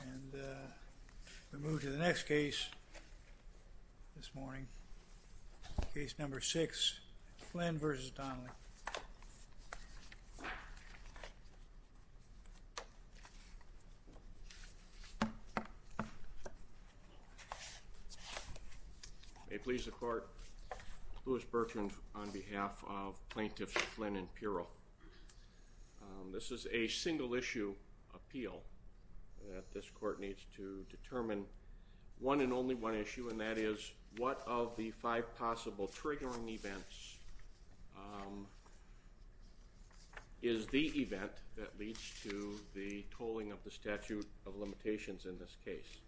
And we move to the next case this morning, case number six, Flynn v. Donnelly. May it please the court, Louis Bertrand on behalf of plaintiffs Flynn and Piro. This is a single issue appeal that this court needs to determine one and only one issue, and that is what of the five possible triggering events is the event that leads to the tolling of the statute of limitations in this case.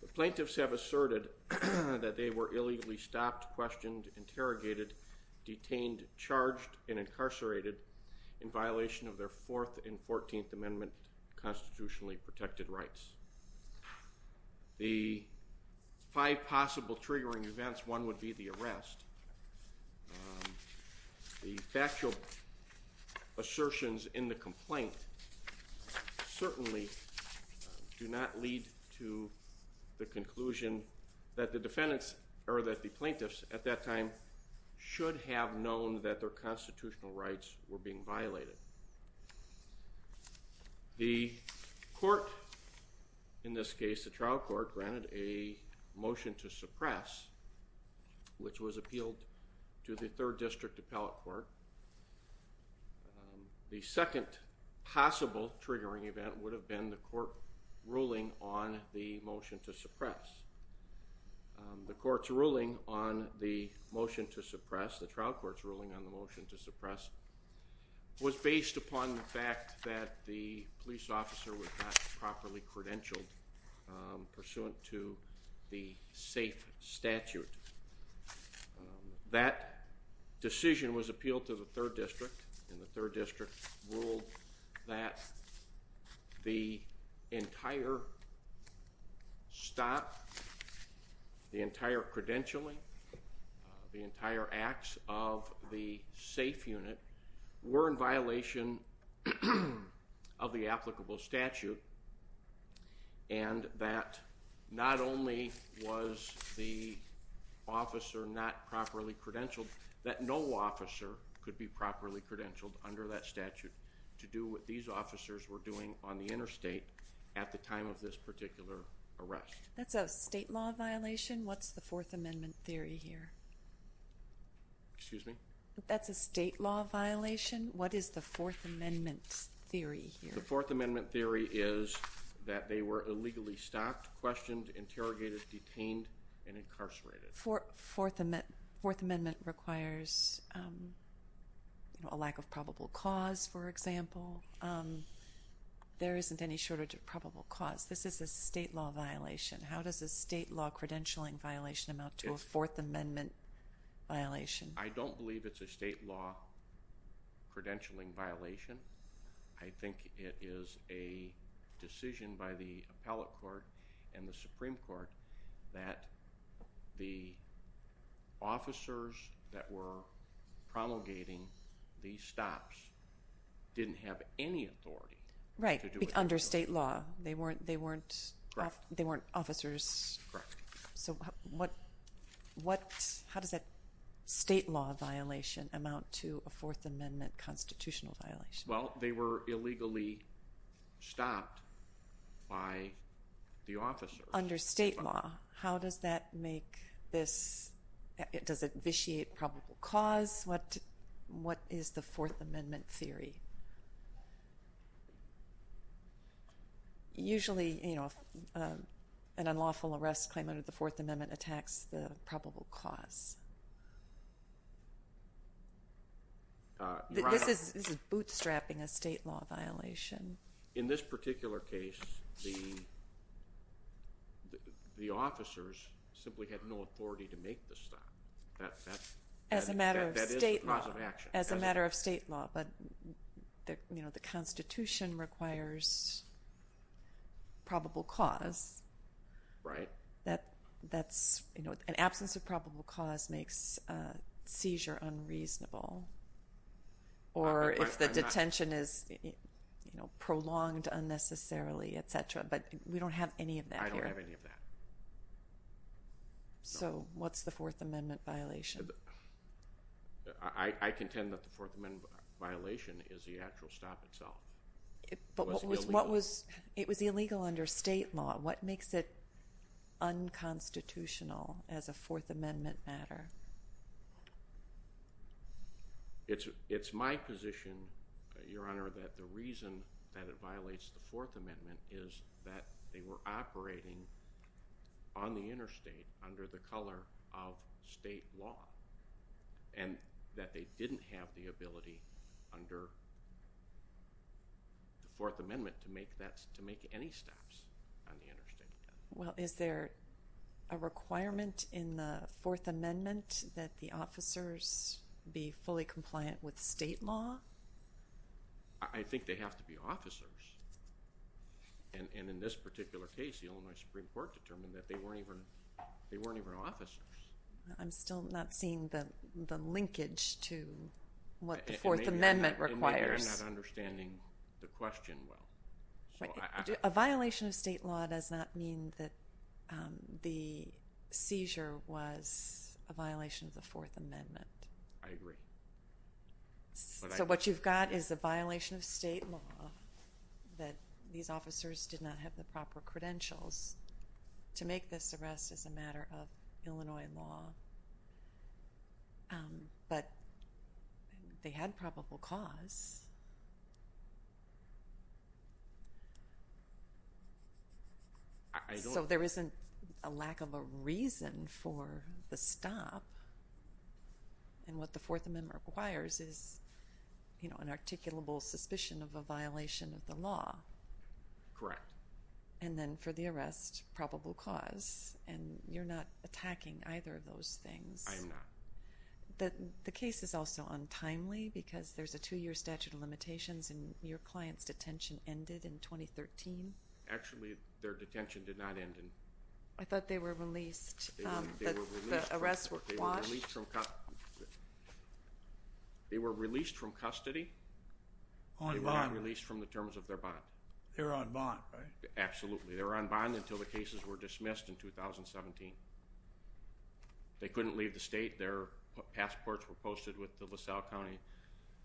The plaintiffs have asserted that they were illegally stopped, questioned, interrogated, detained, charged, and incarcerated in violation of their Fourth and Fourteenth Amendment constitutionally protected rights. The five possible triggering events, one would be the arrest. The factual assertions in the complaint certainly do not lead to the conclusion that the defendants or that the plaintiffs at that time should have known that their constitutional rights were being violated. The court, in this case the trial court, granted a motion to suppress, which was appealed to the Third District Appellate Court. The second possible triggering event would have been the court ruling on the motion to suppress. The court's ruling on the motion to suppress, the trial court's ruling on the motion to suppress, was based upon the fact that the police officer was not properly credentialed pursuant to the safe statute. That decision was appealed to the Third District, and the Third District ruled that the entire stop, the entire credentialing, the entire acts of the safe unit were in violation of the applicable statute, and that not only was the officer not properly credentialed, that no officer could be properly credentialed under that statute to do what these officers were doing on the interstate at the time of this particular arrest. That's a state law violation? What's the Fourth Amendment theory here? Excuse me? That's a state law violation? What is the Fourth Amendment theory here? The Fourth Amendment theory is that they were illegally stopped, questioned, interrogated, detained, and incarcerated. Fourth Amendment requires a lack of probable cause, for example. There isn't any shortage of probable cause. This is a state law violation. How does a state law credentialing violation amount to a Fourth Amendment violation? I don't believe it's a state law credentialing violation. I think it is a decision by the Appellate Court and the Supreme Court that the officers that were promulgating these stops didn't have any authority to do what they were doing. Right, under state law. They weren't officers. Correct. How does a state law violation amount to a Fourth Amendment constitutional violation? Well, they were illegally stopped by the officers. Under state law, how does that make this—does it vitiate probable cause? What is the Fourth Amendment theory? Usually, an unlawful arrest claim under the Fourth Amendment attacks the probable cause. This is bootstrapping a state law violation. In this particular case, the officers simply had no authority to make the stop. As a matter of state law. That is the cause of action. As a matter of state law, but the Constitution requires probable cause. Right. An absence of probable cause makes a seizure unreasonable. Or if the detention is prolonged unnecessarily, etc. But we don't have any of that here. I don't have any of that. So, what's the Fourth Amendment violation? I contend that the Fourth Amendment violation is the actual stop itself. But it was illegal under state law. What makes it unconstitutional as a Fourth Amendment matter? It's my position, Your Honor, that the reason that it violates the Fourth Amendment is that they were operating on the interstate under the color of state law. And that they didn't have the ability under the Fourth Amendment to make any stops on the interstate. Well, is there a requirement in the Fourth Amendment that the officers be fully compliant with state law? I think they have to be officers. And in this particular case, the Illinois Supreme Court determined that they weren't even officers. I'm still not seeing the linkage to what the Fourth Amendment requires. And maybe I'm not understanding the question well. A violation of state law does not mean that the seizure was a violation of the Fourth Amendment. I agree. So, what you've got is a violation of state law that these officers did not have the proper credentials to make this arrest as a matter of Illinois law. But they had probable cause. So, there isn't a lack of a reason for the stop. And what the Fourth Amendment requires is an articulable suspicion of a violation of the law. Correct. And then for the arrest, probable cause. And you're not attacking either of those things. I am not. The case is also untimely because there's a two-year statute of limitations and your client's detention ended in 2013. Actually, their detention did not end in 2013. I thought they were released. The arrests were quashed. They were released from custody. On bond. They were released from the terms of their bond. They were on bond, right? Absolutely. They were on bond until the cases were dismissed in 2017. They couldn't leave the state. Their passports were posted with the LaSalle County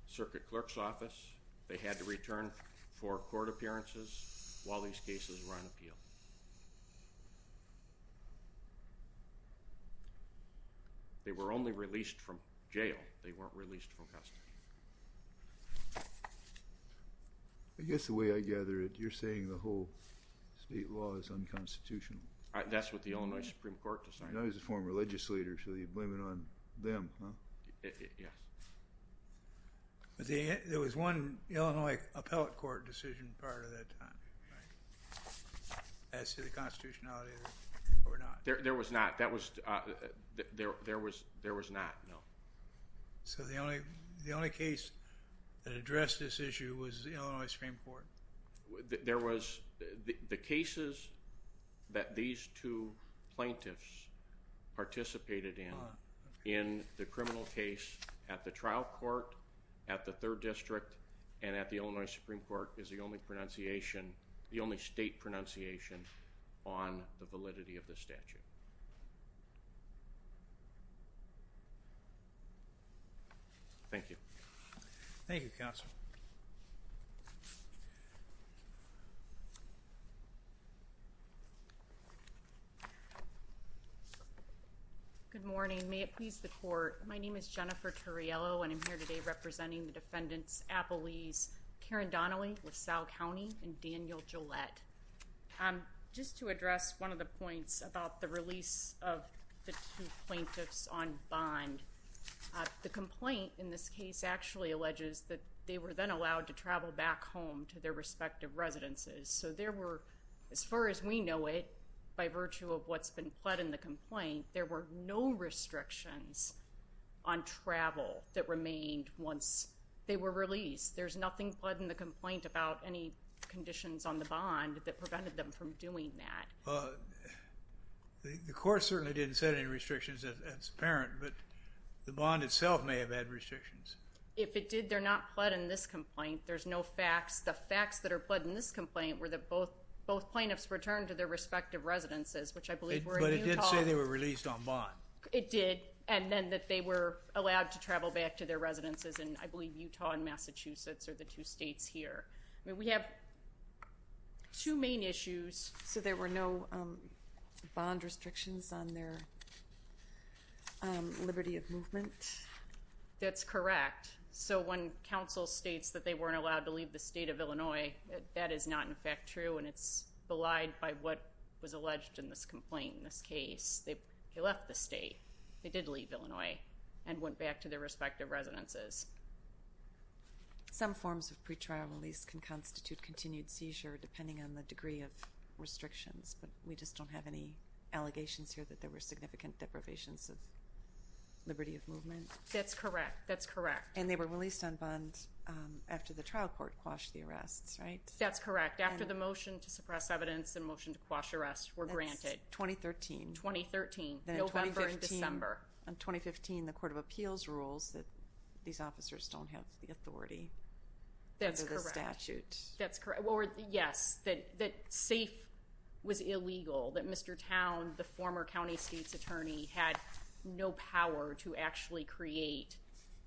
Circuit Clerk's Office. They had to return for court appearances while these cases were on appeal. They were only released from jail. They weren't released from custody. I guess the way I gather it, you're saying the whole state law is unconstitutional. That's what the Illinois Supreme Court decided. He's a former religious leader, so you blame it on them, huh? Yes. But there was one Illinois appellate court decision prior to that time. Right. As to the constitutionality of it or not. There was not. There was not, no. So the only case that addressed this issue was the Illinois Supreme Court? There was the cases that these two plaintiffs participated in, in the criminal case at the trial court, at the third district, and at the Illinois Supreme Court is the only pronunciation, the only state pronunciation on the validity of the statute. Thank you. Thank you, Counsel. Good morning. May it please the court. My name is Jennifer Turriello, and I'm here today representing the defendants Appellee's Karen Donnelly with Sal County and Daniel Gillette. Just to address one of the points about the release of the two plaintiffs on bond. The complaint in this case actually alleges that they were then allowed to travel back home to their respective residences. So there were, as far as we know it, by virtue of what's been pled in the complaint, there were no restrictions on travel that remained once they were released. There's nothing pled in the complaint about any conditions on the bond that prevented them from doing that. The court certainly didn't set any restrictions as apparent, but the bond itself may have had restrictions. If it did, they're not pled in this complaint. There's no facts. The facts that are pled in this complaint were that both plaintiffs returned to their respective residences, which I believe were in Utah. But it did say they were released on bond. It did. And then that they were allowed to travel back to their residences in, I believe, Utah and Massachusetts are the two states here. I mean, we have two main issues. So there were no bond restrictions on their liberty of movement? That's correct. So when counsel states that they weren't allowed to leave the state of Illinois, that is not, in fact, true, and it's belied by what was alleged in this complaint in this case. They left the state. They did leave Illinois and went back to their respective residences. Some forms of pretrial release can constitute continued seizure depending on the degree of restrictions, but we just don't have any allegations here that there were significant deprivations of liberty of movement. That's correct. That's correct. And they were released on bond after the trial court quashed the arrests, right? That's correct. After the motion to suppress evidence and motion to quash arrests were granted. That's 2013. 2013. November and December. In 2015, the Court of Appeals rules that these officers don't have the authority under the statute. That's correct. That's correct. Yes, that SAFE was illegal, that Mr. Town, the former county state's attorney, had no power to actually create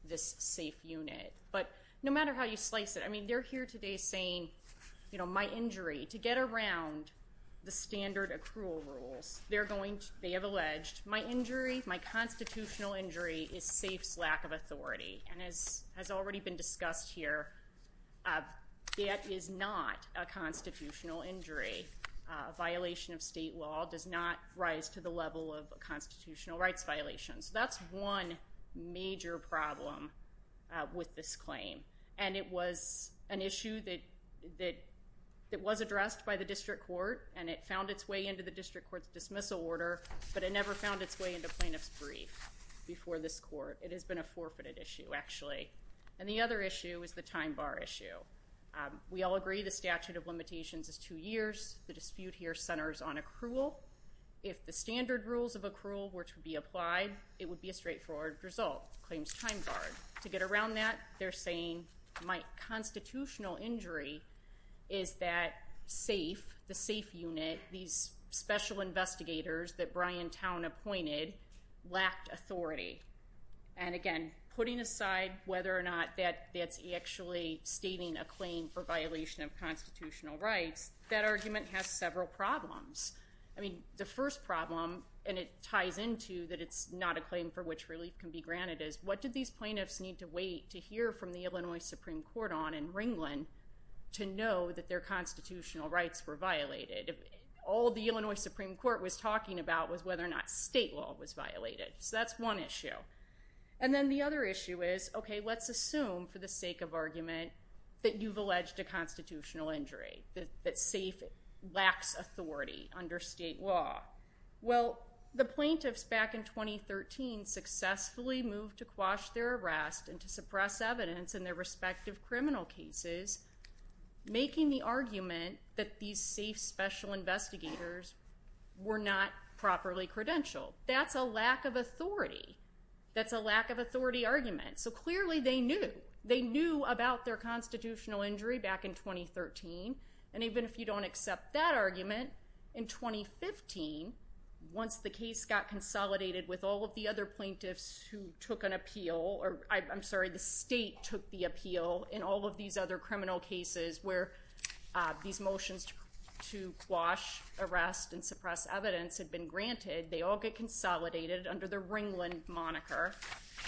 this SAFE unit. But no matter how you slice it, I mean, they're here today saying, you know, my injury, to get around the standard accrual rules, they have alleged, my injury, my constitutional injury is SAFE's lack of authority. And as has already been discussed here, that is not a constitutional injury. A violation of state law does not rise to the level of a constitutional rights violation. So that's one major problem with this claim. And it was an issue that was addressed by the district court, and it found its way into the district court's dismissal order, but it never found its way into plaintiff's brief before this court. It has been a forfeited issue, actually. And the other issue is the time bar issue. We all agree the statute of limitations is two years. The dispute here centers on accrual. If the standard rules of accrual were to be applied, it would be a straightforward result. Claims time barred. To get around that, they're saying, my constitutional injury is that SAFE, the SAFE unit, these special investigators that Brian Towne appointed, lacked authority. And, again, putting aside whether or not that's actually stating a claim for violation of constitutional rights, that argument has several problems. I mean, the first problem, and it ties into that it's not a claim for which relief can be granted, is what did these plaintiffs need to wait to hear from the Illinois Supreme Court on in Ringland to know that their constitutional rights were violated? All the Illinois Supreme Court was talking about was whether or not state law was violated. So that's one issue. And then the other issue is, okay, let's assume for the sake of argument that you've alleged a constitutional injury, that SAFE lacks authority under state law. Well, the plaintiffs back in 2013 successfully moved to quash their arrest and to suppress evidence in their respective criminal cases, making the argument that these SAFE special investigators were not properly credentialed. That's a lack of authority. That's a lack of authority argument. So clearly they knew. They knew about their constitutional injury back in 2013. And even if you don't accept that argument, in 2015, once the case got consolidated with all of the other plaintiffs who took an appeal, or I'm sorry, the state took the appeal in all of these other criminal cases where these motions to quash arrest and suppress evidence had been granted, they all get consolidated under the Ringland moniker.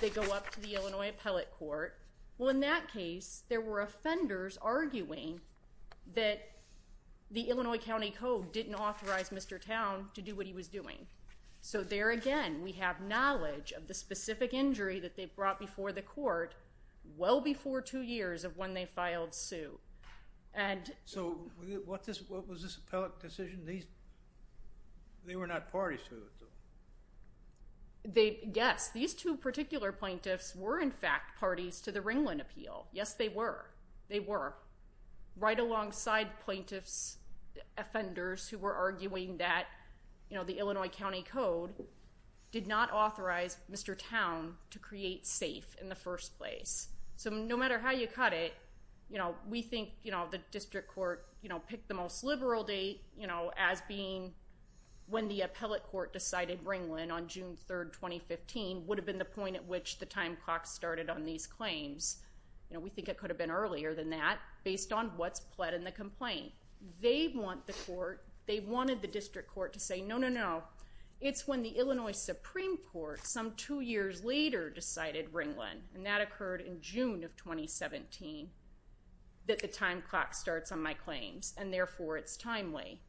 They go up to the Illinois appellate court. Well, in that case there were offenders arguing that the Illinois County Code didn't authorize Mr. Towne to do what he was doing. So there again, we have knowledge of the specific injury that they brought before the court well before two years of when they filed suit. So what was this appellate decision? They were not parties to it. Yes. These two particular plaintiffs were in fact parties to the Ringland appeal. Yes, they were. They were. Right alongside plaintiffs, offenders who were arguing that the Illinois County Code did not authorize Mr. Towne to create safe in the first place. So no matter how you cut it, you know, we think, you know, the district court, you know, pick the most liberal date, you know, as being when the appellate court decided Ringland on June 3rd, 2015 would have been the point at which the time clock started on these claims. You know, we think it could have been earlier than that based on what's pled in the complaint. They want the court, they wanted the district court to say, no, no, no, no. It's when the Illinois Supreme court, some two years later decided Ringland. And that occurred in June of 2017. That the time clock starts on my claims and therefore it's timely.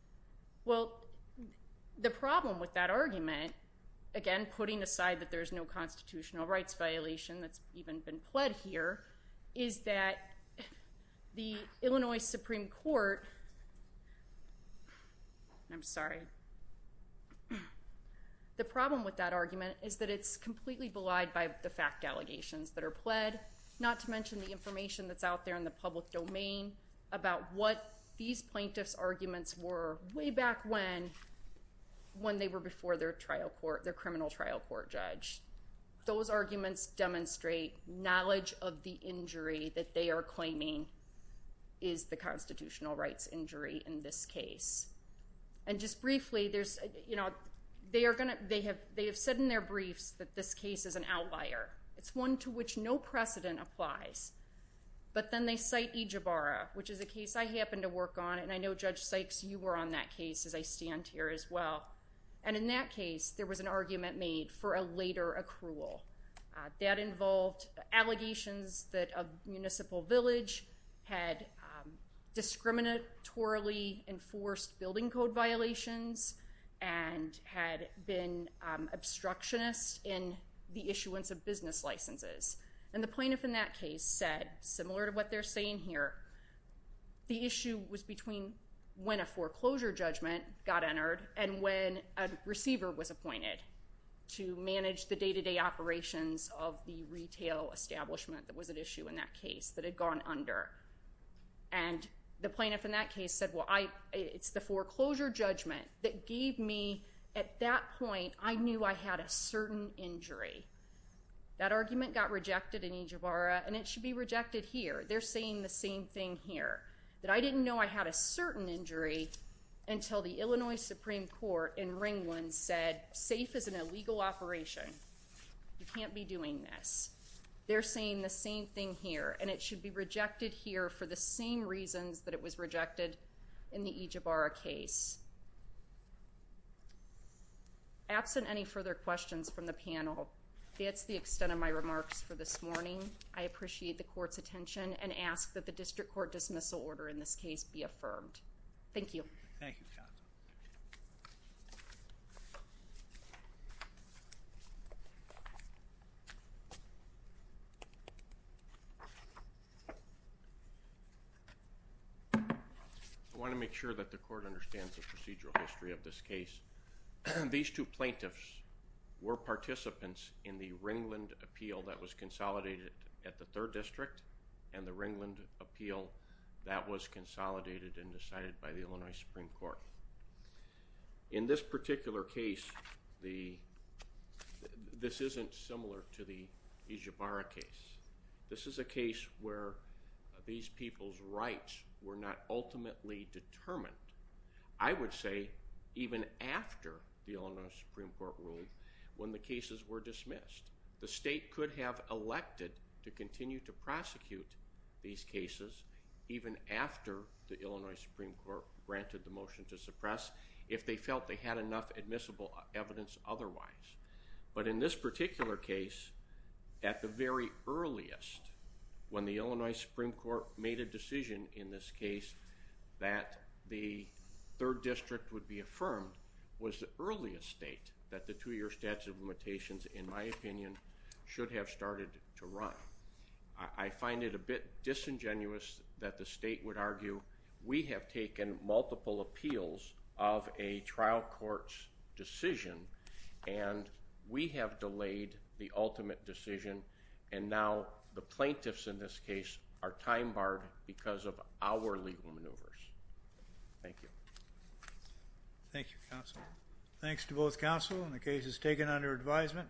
Well, the problem with that argument. Again, putting aside that there's no constitutional rights violation. That's even been pled here. Is that the Illinois Supreme court. I'm sorry. The problem with that argument is that it's completely belied by the fact allegations that are pled, not to mention the information that's out there in the public domain about what these plaintiffs arguments were way back when, when they were before their trial court, their criminal trial court judge, those arguments demonstrate knowledge of the injury that they are claiming is the constitutional rights injury in this case. And just briefly, there's, you know, they are going to, they have, they have said in their briefs that this case is an outlier. It's one to which no precedent applies, but then they cite each of our, which is a case I happen to work on. And I know judge Sykes, you were on that case as I stand here as well. And in that case, there was an argument made for a later accrual that involved allegations that a municipal village had discriminatorily enforced building code violations and had been obstructionist in the issuance of business licenses. And the plaintiff in that case said, similar to what they're saying here, the issue was between when a foreclosure judgment got entered and when a receiver was appointed to manage the day-to-day operations of the retail establishment. That was an issue in that case that had gone under. And the plaintiff in that case said, well, I it's the foreclosure judgment that gave me at that point, I knew I had a certain injury. That argument got rejected in each of our, and it should be rejected here. They're saying the same thing here that I didn't know I had a certain injury until the Illinois Supreme court in Ringland said safe is an illegal operation. You can't be doing this. They're saying the same thing here and it should be rejected here for the same reasons that it was rejected in the each of our case. Absent any further questions from the panel. That's the extent of my remarks for this morning. I appreciate the court's attention and ask that the district court dismissal order in this case be affirmed. Thank you. Thank you. Okay. I want to make sure that the court understands the procedural history of this case. These two plaintiffs were participants in the Ringland appeal that was consolidated at the third district and the Ringland appeal that was consolidated and decided by the Illinois Supreme court. In this particular case, the, this isn't similar to the is your bar case. This is a case where these people's rights were not ultimately determined. I would say even after the Illinois Supreme court rule, when the cases were dismissed, the state could have elected to continue to prosecute these cases. Even after the Illinois Supreme court granted the motion to suppress, if they felt they had enough admissible evidence otherwise, but in this particular case at the very earliest, when the Illinois Supreme court made a decision in this case that the third district would be affirmed was the earliest state that the two-year statute of limitations, in my opinion, should have started to run. I find it a bit disingenuous that the state would argue. We have taken multiple appeals of a trial courts decision and we have delayed the ultimate decision. And now the plaintiffs in this case are time barred because of our legal maneuvers. Thank you. Thank you, counsel. Thanks to both counsel and the cases taken under advisement.